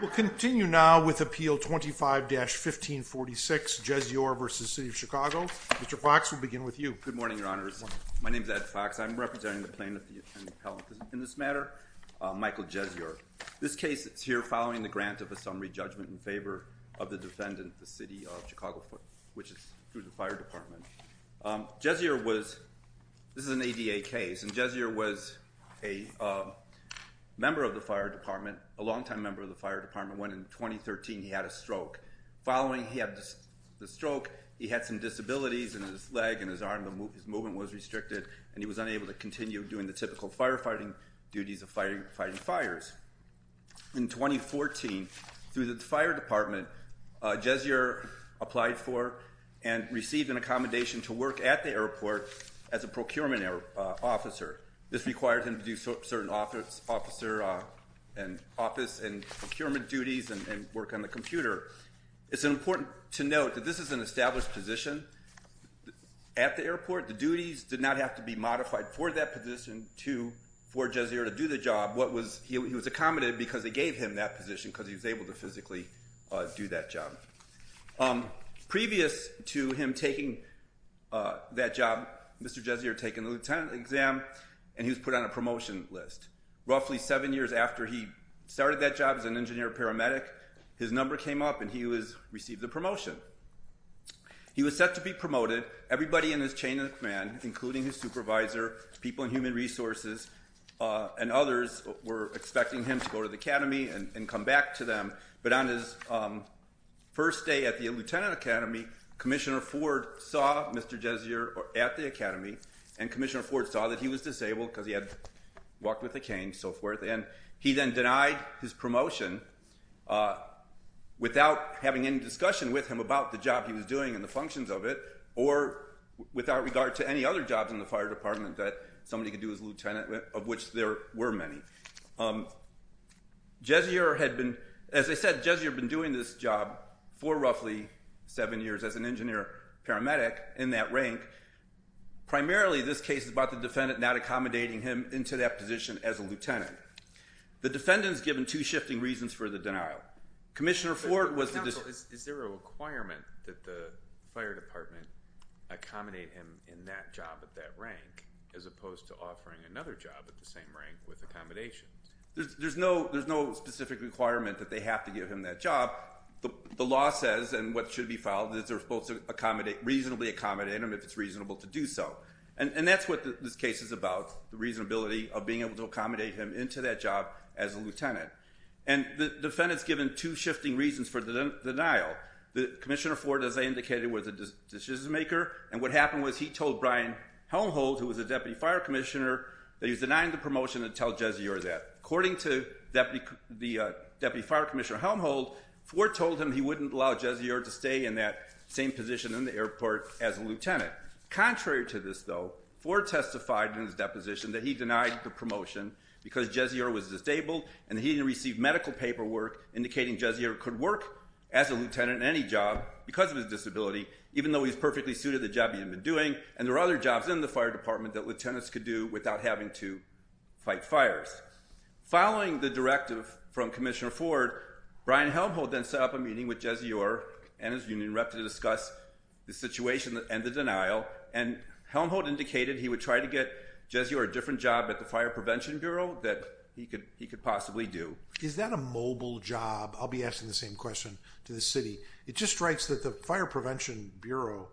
We'll continue now with Appeal 25-1546, Jezior v. City of Chicago. Mr. Fox, we'll begin with you. Good morning, Your Honors. My name is Ed Fox. I'm representing the plaintiff in this matter, Michael Jezior. This case is here following the grant of a summary judgment in favor of the defendant, the City of Chicago, which is through the Fire Department. Jezior was, this is an ADA case, and Jezior was a member of the Fire Department, a longtime member of the Fire Department when, in 2013, he had a stroke. Following the stroke, he had some disabilities in his leg and his arm. His movement was restricted, and he was unable to continue doing the typical firefighting duties of fighting fires. In 2014, through the Fire Department, Jezior applied for and received an accommodation to work at the airport as a procurement officer. This required him to do certain officer and office and procurement duties and work on the computer. It's important to note that this is an established position. At the airport, the duties did not have to be modified for that position for Jezior to do the job. He was accommodated because they gave him that position because he was able to physically do that job. Previous to him taking that job, Mr. Jezior had taken the lieutenant exam, and he was put on a promotion list. Roughly seven years after he started that job as an engineer paramedic, his number came up, and he was received a promotion. He was set to be promoted. Everybody in his chain of command, including his supervisor, people in human resources, and others were expecting him to go to the academy and come back to them, but on his first day at the lieutenant academy, Commissioner Ford saw Mr. Jezior at the academy, and Commissioner Ford saw that he was disabled because he had walked with a cane, so forth, and he then denied his promotion without having any discussion with him about the job he was doing and the functions of it or without regard to any other jobs in the Fire Department that somebody could do as a lieutenant, of which there were many. Jezior had been, as I said, Jezior had been doing this job for roughly seven years as an engineer paramedic in that rank. Primarily, this case is about the defendant not accommodating him into that position as a lieutenant. The defendant is given two shifting reasons for the denial. Commissioner Ford was the requirement that the Fire Department accommodate him in that job at that rank as opposed to offering another job at the same rank with accommodations. There's no specific requirement that they have to give him that job. The law says, and what should be followed, that they're supposed to reasonably accommodate him if it's reasonable to do so, and that's what this case is about, the reasonability of being able to accommodate him into that job as a lieutenant, and the defendant is given two shifting reasons for the denial. Commissioner Ford, as I indicated, was a decision maker, and what happened was he told Brian Helmholtz, who was a Deputy Fire Commissioner, that he was denying the promotion to tell Jezior that. According to Deputy Fire Commissioner Helmholtz, Ford told him he wouldn't allow Jezior to stay in that same position in the airport as a lieutenant. Contrary to this, though, Ford testified in his deposition that he denied the promotion because Jezior was disabled and he didn't receive medical paperwork indicating Jezior could work as a lieutenant in any job because of his disability, even though he's perfectly suited to the job he had been doing, and there are other jobs in the Fire Department that lieutenants could do without having to fight fires. Following the directive from Commissioner Ford, Brian Helmholtz then set up a meeting with Jezior and his union rep to discuss the situation and the denial, and Helmholtz indicated he would try to get Jezior a different job at the Fire Prevention Bureau that he could possibly do. Is that a mobile job? I'll be asking the same question to the city. It just strikes that the Fire Prevention Bureau,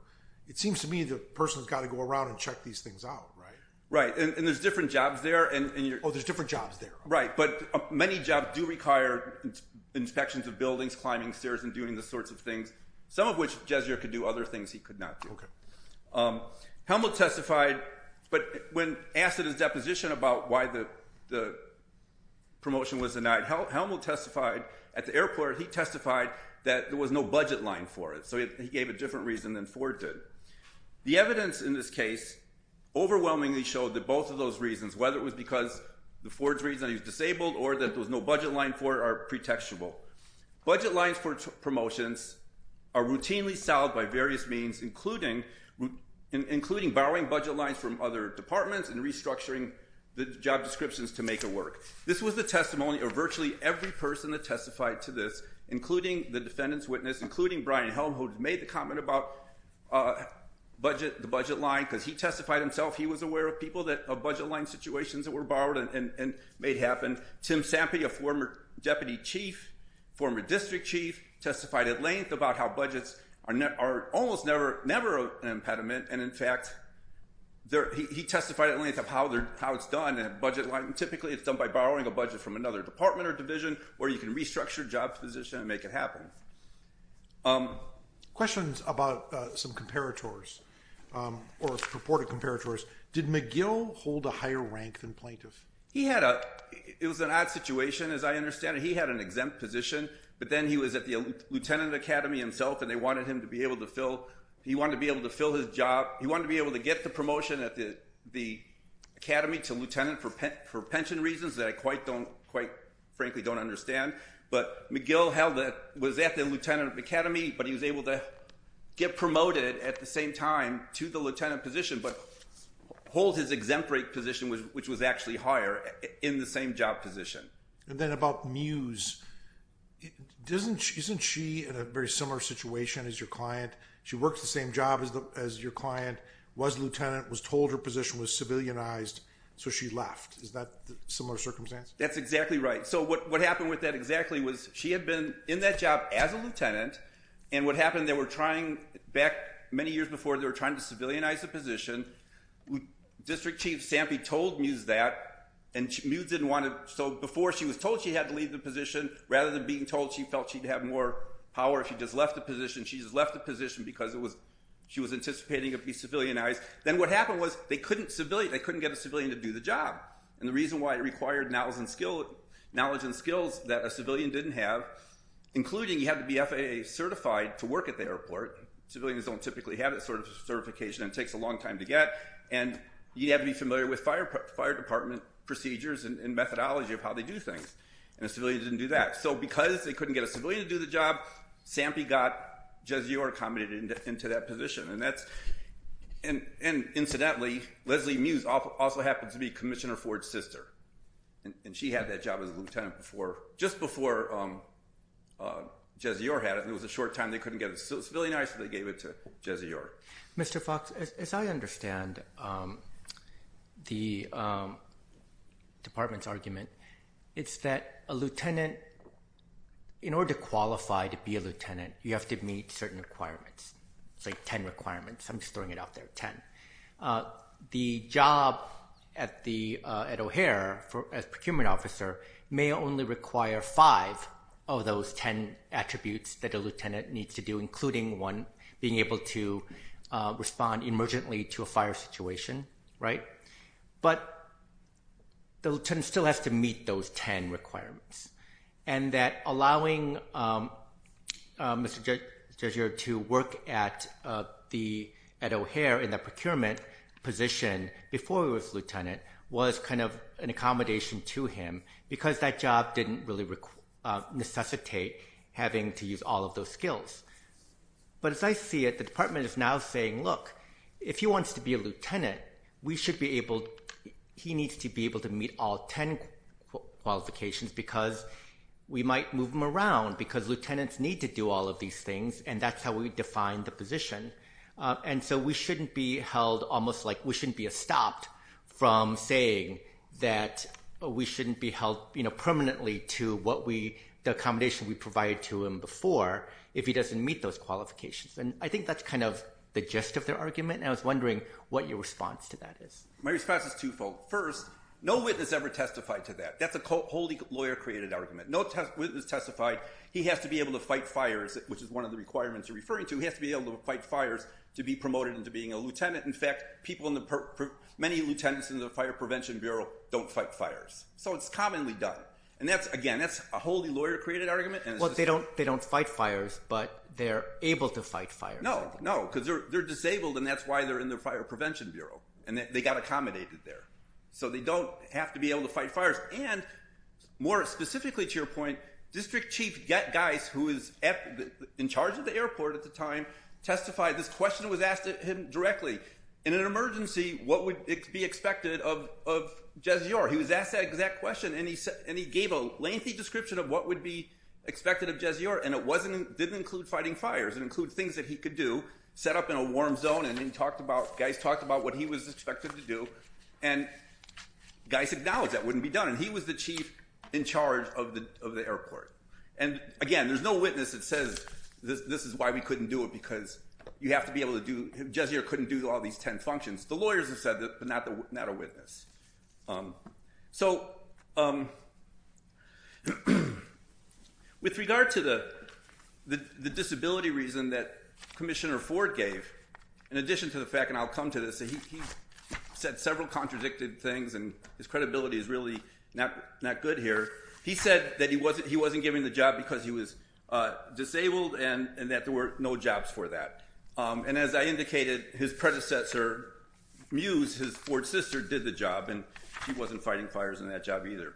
it seems to me the person's got to go around and check these things out, right? Right, and there's different jobs there. Oh, there's different jobs there. Right, but many jobs do require inspections of buildings, climbing stairs, and doing the sorts of things, some of which Jezior could do, other things he could not do. Helmholtz testified, but when asked at his deposition about why the promotion was denied, Helmholtz testified at the airport, he testified that there was no budget line for it, so he gave a different reason than Ford did. The evidence in this case overwhelmingly showed that both of those reasons, whether it was because the Ford's reason he was disabled or that there was no budget line for it, are pretextual. Budget lines for promotions are routinely solved by various means, including including borrowing budget lines from other departments and restructuring the job descriptions to make it work. This was the testimony of virtually every person that testified to this, including the defendant's witness, including Brian Helmholtz, who made the comment about the budget line because he testified himself he was aware of people that, of budget line situations that were borrowed and made happen. Tim Sampy, a former deputy chief, former district chief, testified at length about how budgets are almost never an impediment, and in fact he testified at length of how it's done, and typically it's done by borrowing a budget from another department or division where you can restructure job position and make it happen. Questions about some comparators or purported comparators. Did McGill hold a higher rank than plaintiff? He had a, it was an odd situation as I understand it. He had an exempt position, but then he was at the lieutenant academy himself and they wanted him to be able to fill, he wanted to be able to fill his job, he wanted to be able to get the promotion at the academy to lieutenant for pension reasons that I quite don't, quite frankly don't understand, but McGill held it, was at the lieutenant academy, but he was able to get promoted at the same time to lieutenant position, but hold his exempt rank position, which was actually higher, in the same job position. And then about Mews, doesn't, isn't she in a very similar situation as your client? She works the same job as your client, was lieutenant, was told her position was civilianized, so she left. Is that a similar circumstance? That's exactly right. So what happened with that exactly was she had been in that job as a lieutenant, and what happened, they were trying back many years before, they were trying to civilianize the position. District Chief Sampy told Mews that, and Mews didn't want to, so before she was told she had to leave the position, rather than being told she felt she'd have more power if she just left the position, she just left the position because it was, she was anticipating it'd be civilianized. Then what happened was they couldn't civilian, they couldn't get a civilian to do the job, and the reason why it required knowledge and skill, knowledge and skills that a civilian didn't have, including you have to be FAA certified to work at the airport, civilians don't typically have that sort of certification and it takes a long time to get, and you have to be familiar with fire department procedures and methodology of how they do things, and a civilian didn't do that. So because they couldn't get a civilian to do the job, Sampy got Jezior accommodated into that position, and that's, and incidentally, Leslie Mews also happened to be Ford's sister, and she had that job as a lieutenant before, just before Jezior had it, and it was a short time, they couldn't get a civilianized, so they gave it to Jezior. Mr. Fox, as I understand the department's argument, it's that a lieutenant, in order to qualify to be a lieutenant, you have to meet certain requirements. It's like Ed O'Hare, as procurement officer, may only require five of those ten attributes that a lieutenant needs to do, including one being able to respond emergently to a fire situation, but the lieutenant still has to meet those ten requirements, and that allowing Mr. Jezior to work at Ed O'Hare in the procurement position before he was lieutenant was kind of an accommodation to him, because that job didn't really necessitate having to use all of those skills. But as I see it, the department is now saying, look, if he wants to be a lieutenant, we should be able, he needs to be able to meet all ten qualifications, because we might move him around, because lieutenants need to do all of these things, and that's how we define the position. And so we shouldn't be held almost like, we shouldn't be stopped from saying that we shouldn't be held permanently to the accommodation we provided to him before if he doesn't meet those qualifications. And I think that's kind of the gist of their argument, and I was wondering what your response to that is. My response is twofold. First, no witness ever testified to that. That's wholly lawyer-created argument. No witness testified. He has to be able to fight fires, which is one of the requirements you're referring to. He has to be able to fight fires to be promoted into being a lieutenant. In fact, many lieutenants in the Fire Prevention Bureau don't fight fires, so it's commonly done. And again, that's a wholly lawyer-created argument. Well, they don't fight fires, but they're able to fight fires. No, no, because they're disabled, and that's why they're in the Fire Prevention Bureau, and they got accommodated there. So they don't have to be able to fight fires. And more specifically to your point, District Chief Geis, who was in charge of the airport at the time, testified. This question was asked of him directly. In an emergency, what would be expected of Jezior? He was asked that exact question, and he gave a lengthy description of what would be expected of Jezior, and it didn't include fighting fires. It included things that he could do, and Geis talked about what he was expected to do, and Geis acknowledged that wouldn't be done, and he was the chief in charge of the airport. And again, there's no witness that says, this is why we couldn't do it, because you have to be able to do, Jezior couldn't do all these 10 functions. The lawyers have said that, but not a witness. So, with regard to the disability reason that Commissioner Ford gave, in addition to the fact, and I'll come to this, he said several contradicted things, and his credibility is really not good here. He said that he wasn't given the job because he was disabled, and that there were no jobs for that. And as I indicated, his predecessor, Mews, his Ford sister, did the job, and he wasn't fighting fires in that job either.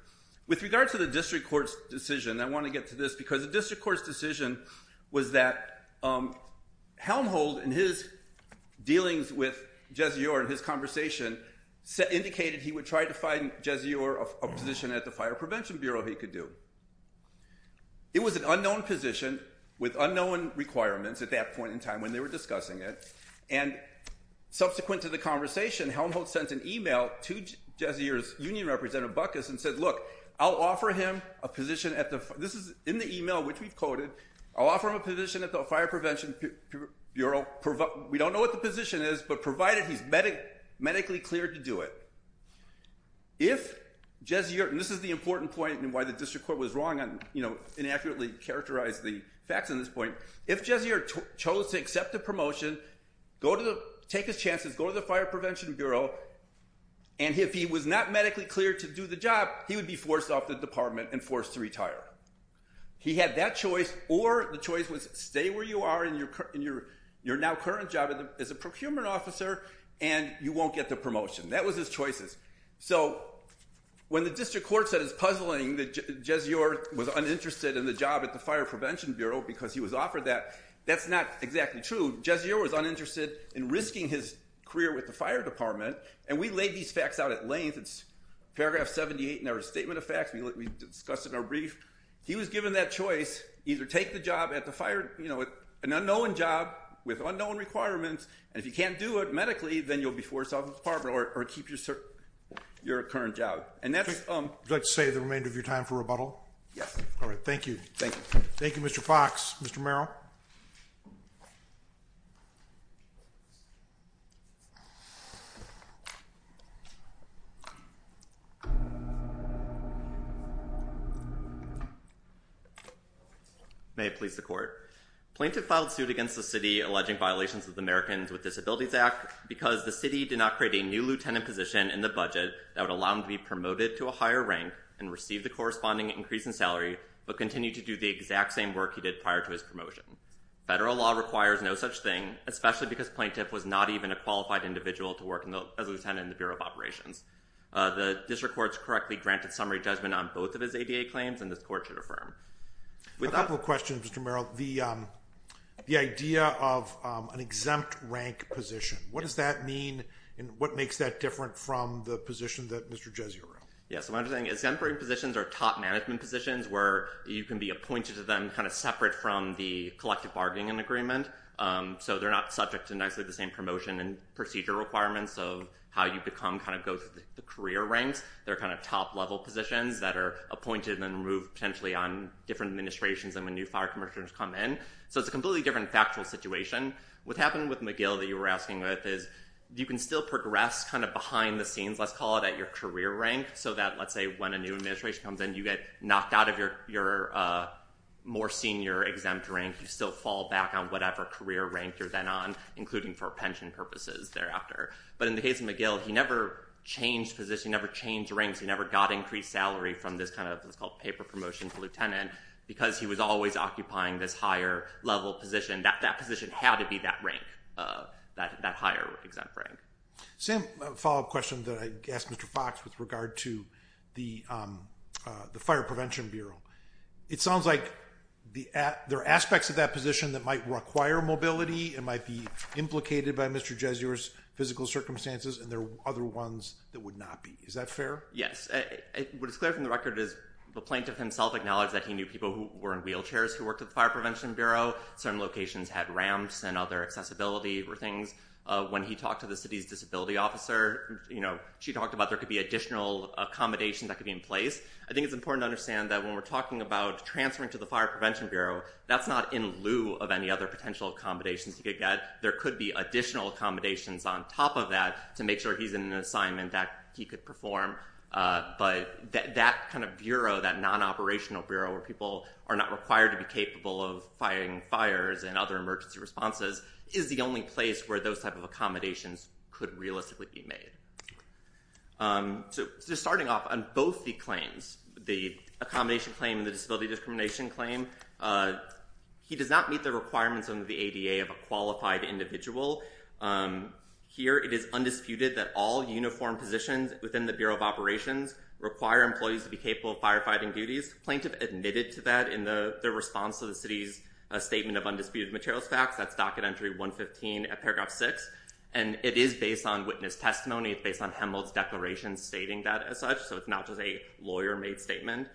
With regard to the district court's decision, I want to get to this, because the district court's decision was that Helmholt and his dealings with Jezior and his conversation indicated he would try to find Jezior a position at the Fire Prevention Bureau he could do. It was an unknown position with unknown requirements at that point in time when they were discussing it, and subsequent to the conversation, Helmholt sent an email to Jezior's union representative, Buckus, and said, look, I'll offer him a position at the, this is in the email, which we've coded, I'll offer him a position at the Fire Prevention Bureau, we don't know what the position is, but provided he's medically cleared to do it. If Jezior, and this is the important point and why the district court was wrong on, you know, inaccurately characterized the facts on this point, if Jezior chose to accept the promotion, go to the, take his chances, go to the Fire Prevention Bureau, and if he was not medically cleared to do the job, he would be forced off the department and forced to retire. He had that choice, or the choice was stay where you are in your, in your, your now current job as a procurement officer, and you won't get the promotion. That was his choices. So when the district court said it's puzzling that Jezior was uninterested in the job at the Fire Prevention Bureau because he was offered that, that's not exactly true. Jezior was uninterested in risking his career with the fire department, and we laid these facts out at length, it's paragraph 78 in our statement of facts, we discussed it in our brief. He was given that choice, either take the job at the fire, you know, an unknown job with unknown requirements, and if you can't do it medically, then you'll be forced out of the department or keep your current job. And that's... Would you like to save the remainder of your time for rebuttal? Yes. All right. Thank you. Thank you. Thank you, Mr. Fox. Mr. Merrill? May it please the court. Plaintiff filed suit against the city alleging violations of the Americans with Disabilities Act because the city did not create a new lieutenant position in the budget that would allow him to be promoted to a higher rank and receive the corresponding increase in salary, but continue to do the exact same work he did prior to his promotion. Federal law requires no such thing, especially because plaintiff was not even a qualified individual to work as a lieutenant in the Bureau of Operations. The district courts correctly granted summary judgment on both of his ADA claims, and this court should affirm. A couple of questions, Mr. Merrill. The idea of an exempt rank position, what does that mean, and what makes that different from the position that Mr. Jesior held? Yes. So what I'm saying is exempt rank positions are top management positions where you can be appointed to them kind of separate from the collective bargaining agreement, so they're not subject to nicely the same promotion and procedure requirements of how kind of go through the career ranks. They're kind of top-level positions that are appointed and moved potentially on different administrations and when new fire commissioners come in. So it's a completely different factual situation. What happened with McGill that you were asking with is you can still progress kind of behind the scenes, let's call it, at your career rank so that, let's say, when a new administration comes in, you get knocked out of your more senior exempt rank. You still fall back on whatever career rank you're then on, including for pension purposes thereafter. But in the case of McGill, he never changed position, never changed ranks, he never got increased salary from this kind of what's called paper promotion to lieutenant because he was always occupying this higher level position. That position had to be that rank, that higher exempt rank. Same follow-up question that I asked Mr. Fox with regard to the Fire Prevention Bureau. It sounds like there are aspects of that position that might require mobility, it might be implicated by Mr. Jesuer's physical circumstances, and there are other ones that would not be. Is that fair? Yes. What is clear from the record is the plaintiff himself acknowledged that he knew people who were in wheelchairs who worked at the Fire Prevention Bureau. Certain locations had ramps and other accessibility things. When he talked to the city's disability officer, you know, she talked about there could be additional accommodations that could be in place. I think it's important to understand that when we're talking about transferring to the Fire Prevention Bureau, that's not in lieu of any other potential accommodations he could get. There could be additional accommodations on top of that to make sure he's in an assignment that he could perform. But that kind of bureau, that non-operational bureau where people are not required to be capable of firing fires and other emergency responses, is the only place where those type of accommodations could realistically be made. So just starting off on both the claims, the accommodation claim and the disability discrimination claim, he does not meet the requirements under the ADA of a qualified individual. Here it is undisputed that all uniform positions within the Bureau of Operations require employees to be capable of firefighting duties. Plaintiff admitted to that in the response to the city's statement of undisputed materials facts. That's docket entry 115 at paragraph 6, and it is based on witness testimony. It's based on Hemel's declaration stating that as such, it's not just a lawyer-made statement.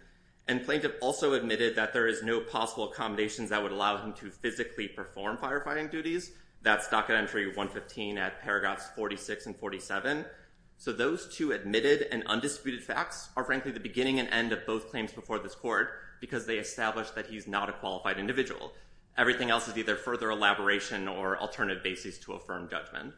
And plaintiff also admitted that there is no possible accommodations that would allow him to physically perform firefighting duties. That's docket entry 115 at paragraphs 46 and 47. So those two admitted and undisputed facts are frankly the beginning and end of both claims before this court, because they establish that he's not a qualified individual. Everything else is either further elaboration or alternative basis to affirm judgment.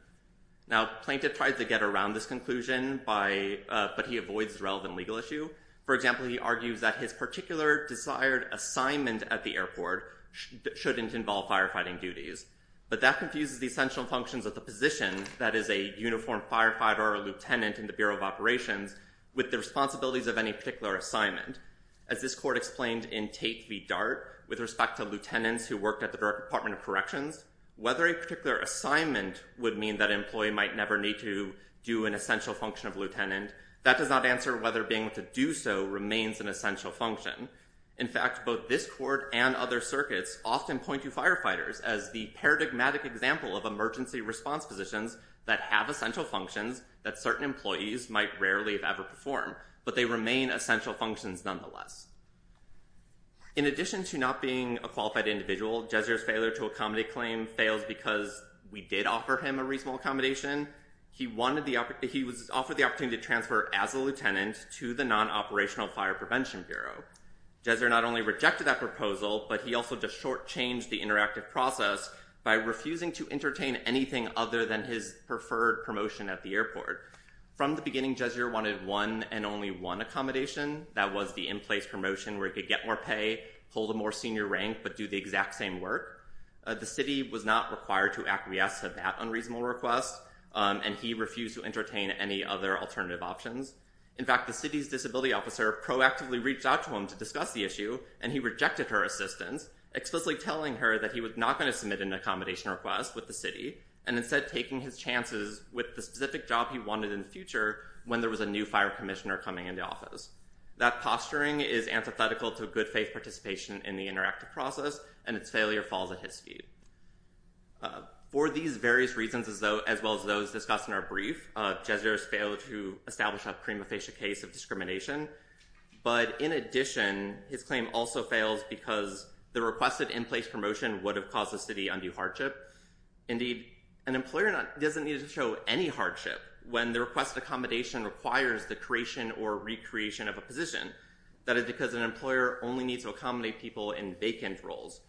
Now, plaintiff tried to get around this conclusion, but he avoids the relevant legal issue. For example, he argues that his particular desired assignment at the airport shouldn't involve firefighting duties. But that confuses the essential functions of the position, that is a uniform firefighter or lieutenant in the Bureau of Operations, with the responsibilities of any particular assignment. As this court explained in Tate v. Dart, with respect to lieutenants who worked at the Department of Corrections, whether a particular assignment would mean that employee might never need to do an essential function of lieutenant, that does not answer whether being able to do so remains an essential function. In fact, both this court and other circuits often point to firefighters as the paradigmatic example of emergency response positions that have essential functions that certain employees might rarely have ever performed, but they remain essential functions nonetheless. In addition to not being a qualified individual, Jezior's failure to accommodate claim fails because we did offer him a reasonable accommodation. He was offered the opportunity to transfer as a lieutenant to the non-operational fire prevention bureau. Jezior not only rejected that proposal, but he also just short-changed the interactive process by refusing to entertain anything other than his preferred promotion at the airport. From the beginning, Jezior wanted one and only one accommodation, that was the in-place promotion where he could get more pay, hold a more senior rank, but do the exact same work. The city was not required to acquiesce to that unreasonable request, and he refused to entertain any other alternative options. In fact, the city's disability officer proactively reached out to him to discuss the issue, and he rejected her assistance, explicitly telling her that he was not going to submit an accommodation request with the city, and instead taking his chances with the specific job he wanted in the future when there was a new fire commissioner coming into office. That posturing is antithetical to good faith participation in the interactive process, and its failure falls at his feet. For these various reasons, as well as those discussed in our brief, Jezior has failed to establish a prima facie case of discrimination, but in addition, his claim also fails because the requested in-place promotion would have caused the city undue hardship. Indeed, an employer doesn't need to show any hardship when the requested accommodation requires the creation or recreation of a position. That is because an employer only needs to accommodate people in vacant roles.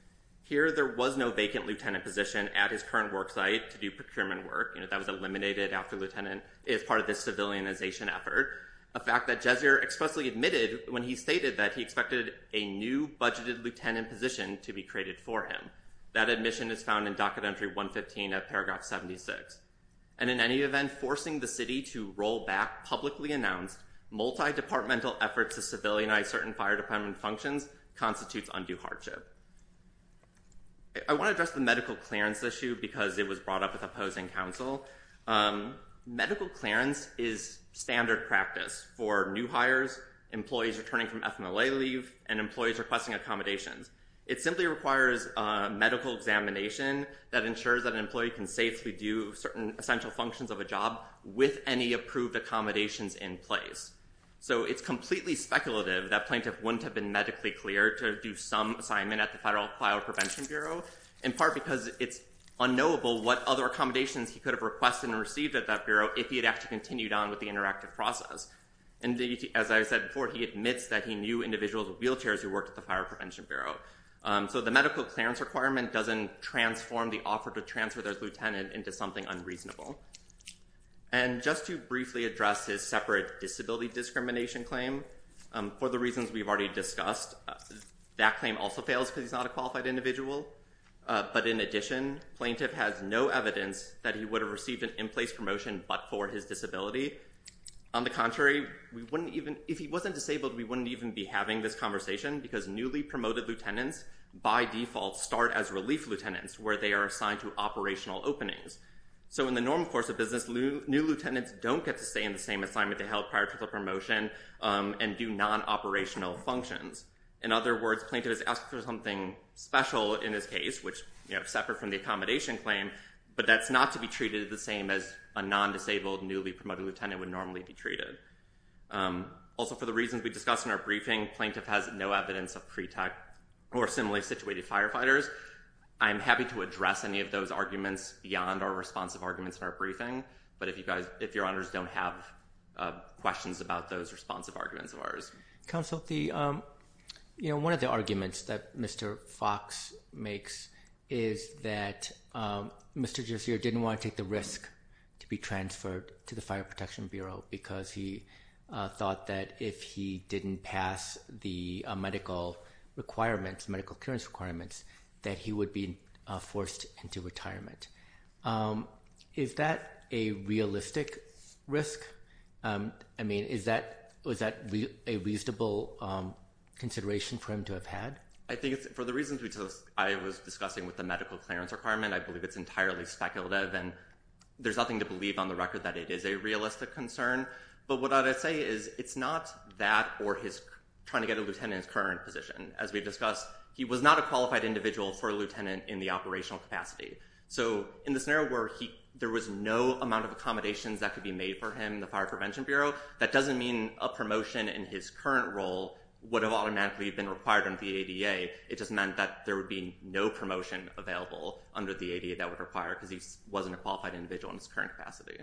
Here, there was no vacant lieutenant position at his current work site to do procurement work. You know, that was eliminated after lieutenant is part of this civilianization effort, a fact that Jezior expressly admitted when he stated that he expected a new budgeted lieutenant position to be created for him. That admission is found in docket entry 115 of paragraph 76. And in any event, forcing the city to roll back publicly announced multi-departmental efforts to civilianize certain fire department functions constitutes undue hardship. I want to address the medical clearance issue because it was brought up with opposing counsel. Medical clearance is standard practice for new hires, employees returning from FMLA leave, and employees requesting accommodations. It simply requires medical examination that ensures that an employee can safely do certain essential functions of a job with any approved accommodations in place. So it's completely speculative that plaintiff wouldn't have been medically cleared to do some assignment at the Federal Fire Prevention Bureau, in part because it's unknowable what other accommodations he could have requested and received at that bureau if he had actually continued on with the interactive process. And as I said before, he admits that he knew individuals with wheelchairs who worked at the fire department. And just to briefly address his separate disability discrimination claim, for the reasons we've already discussed, that claim also fails because he's not a qualified individual. But in addition, plaintiff has no evidence that he would have received an in-place promotion but for his disability. On the contrary, if he wasn't disabled, we wouldn't even be having this conversation because newly promoted lieutenants by default start as relief lieutenants where they are assigned to operational openings. So in the normal course of business, new lieutenants don't get to stay in the same assignment they held prior to the promotion and do non-operational functions. In other words, plaintiff has asked for something special in his case, which is separate from the accommodation claim, but that's not to be treated the same as a non-disabled newly promoted lieutenant would normally be treated. Also, for the reasons we discussed in our briefing, plaintiff has no evidence of pre-tech or similarly situated firefighters. I'm happy to address any of those arguments beyond our responsive arguments in our briefing, but if your honors don't have questions about those responsive arguments of ours. Counsel, one of the arguments that Mr. Fox makes is that Mr. Giussier didn't want to take the risk to be transferred to the Fire Protection Bureau because he thought that if he didn't pass the medical requirements, medical clearance requirements, that he would be forced into retirement. Is that a realistic risk? I mean, is that, was that a reasonable consideration for him to have had? I think for the reasons I was discussing with the medical clearance requirement, I believe it's entirely speculative and there's nothing to believe on the record that it is a realistic concern. But what I would say is it's not that or his trying to get a lieutenant's current position. As we discussed, he was not a qualified individual for a lieutenant in the operational capacity. So in the scenario where there was no amount of accommodations that could be made for him, the Fire Prevention Bureau, that doesn't mean a promotion in his current role would have automatically been required under the ADA. It just meant that there would be no promotion available under the ADA that would require it because he wasn't a qualified individual in his current capacity.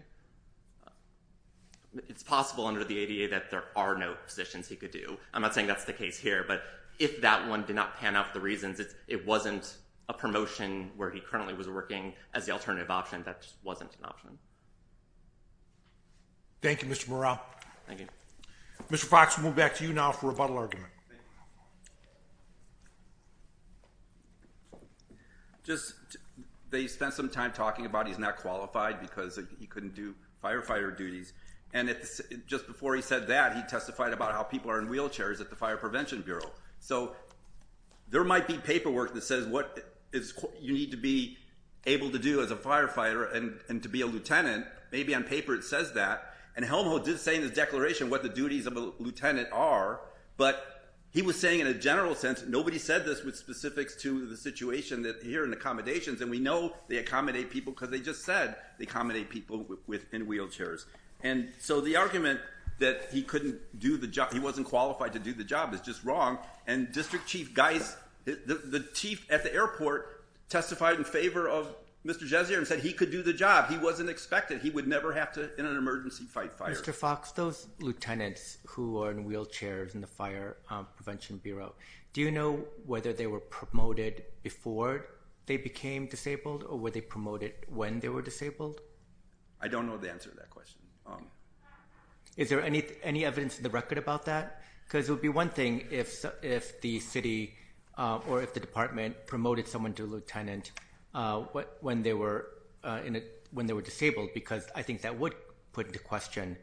It's possible under the ADA that there are no positions he could do. I'm not saying that's the case here, but if that one did not pan out for the reasons, it wasn't a promotion where he currently was working as the alternative option, that just wasn't an option. Thank you, Mr. Morrell. Thank you. Mr. Fox, we'll move back to you now for a rebuttal argument. Thank you. They spent some time talking about he's not qualified because he couldn't do firefighter duties. And just before he said that, he testified about how people are in wheelchairs at the Fire Prevention Bureau. So there might be paperwork that says what you need to be able to do as a firefighter and to be a lieutenant. Maybe on paper it says that. And Helmholtz did say in a general sense, nobody said this with specifics to the situation here in accommodations. And we know they accommodate people because they just said they accommodate people in wheelchairs. And so the argument that he couldn't do the job, he wasn't qualified to do the job, is just wrong. And District Chief Geis, the chief at the airport, testified in favor of Mr. Gessier and said he could do the job. He wasn't expected. He would never have to, in an emergency, fight fire. Mr. Fox, those lieutenants who are in wheelchairs in the Fire Prevention Bureau, do you know whether they were promoted before they became disabled or were they promoted when they were disabled? I don't know the answer to that question. Is there any evidence in the record about that? Because it would be one thing if the city or if the department promoted someone to a lieutenant when they were disabled. Because I think that would put into question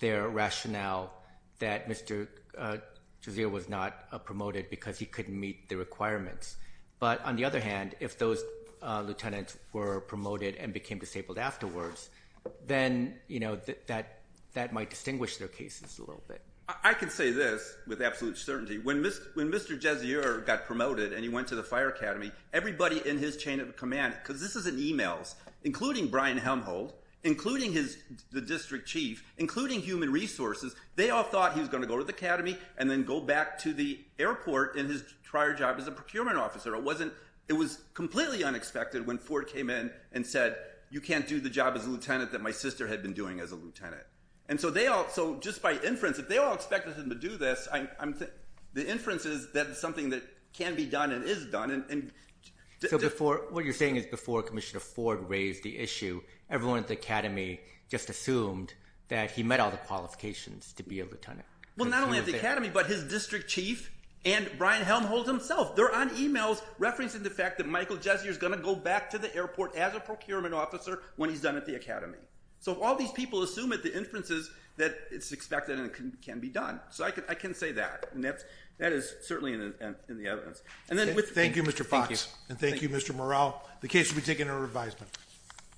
their rationale that Mr. Gessier was not promoted because he couldn't meet the requirements. But on the other hand, if those lieutenants were promoted and became disabled afterwards, then that might distinguish their cases a little bit. I can say this with absolute certainty. When Mr. Gessier got promoted and he went to the fire academy, everybody in his chain of command, because this is in emails, including Brian Helmholtz, including the district chief, including human resources, they all thought he was going to go to the academy and then go back to the airport in his prior job as a procurement officer. It was completely unexpected when Ford came in and said, you can't do the job as a lieutenant that my sister had been doing as a lieutenant. And so just by inference, if they all expected him to do this, the inference is that it's something that can be done and is done. So what you're saying is before Commissioner Ford raised the issue, everyone at the academy just assumed that he met all the qualifications to be a lieutenant? Well, not only at the academy, but his district chief and Brian Helmholtz himself, they're on emails referencing the fact that Michael Gessier is going to go back to the airport as a procurement officer when he's done at the academy. So all these people assume at the inferences that it's expected and it can be done. So I can say that. And that is certainly in the evidence. And then with... Thank you, Mr. Fox. And thank you, Mr. Morrell. The case will be taken under advisement.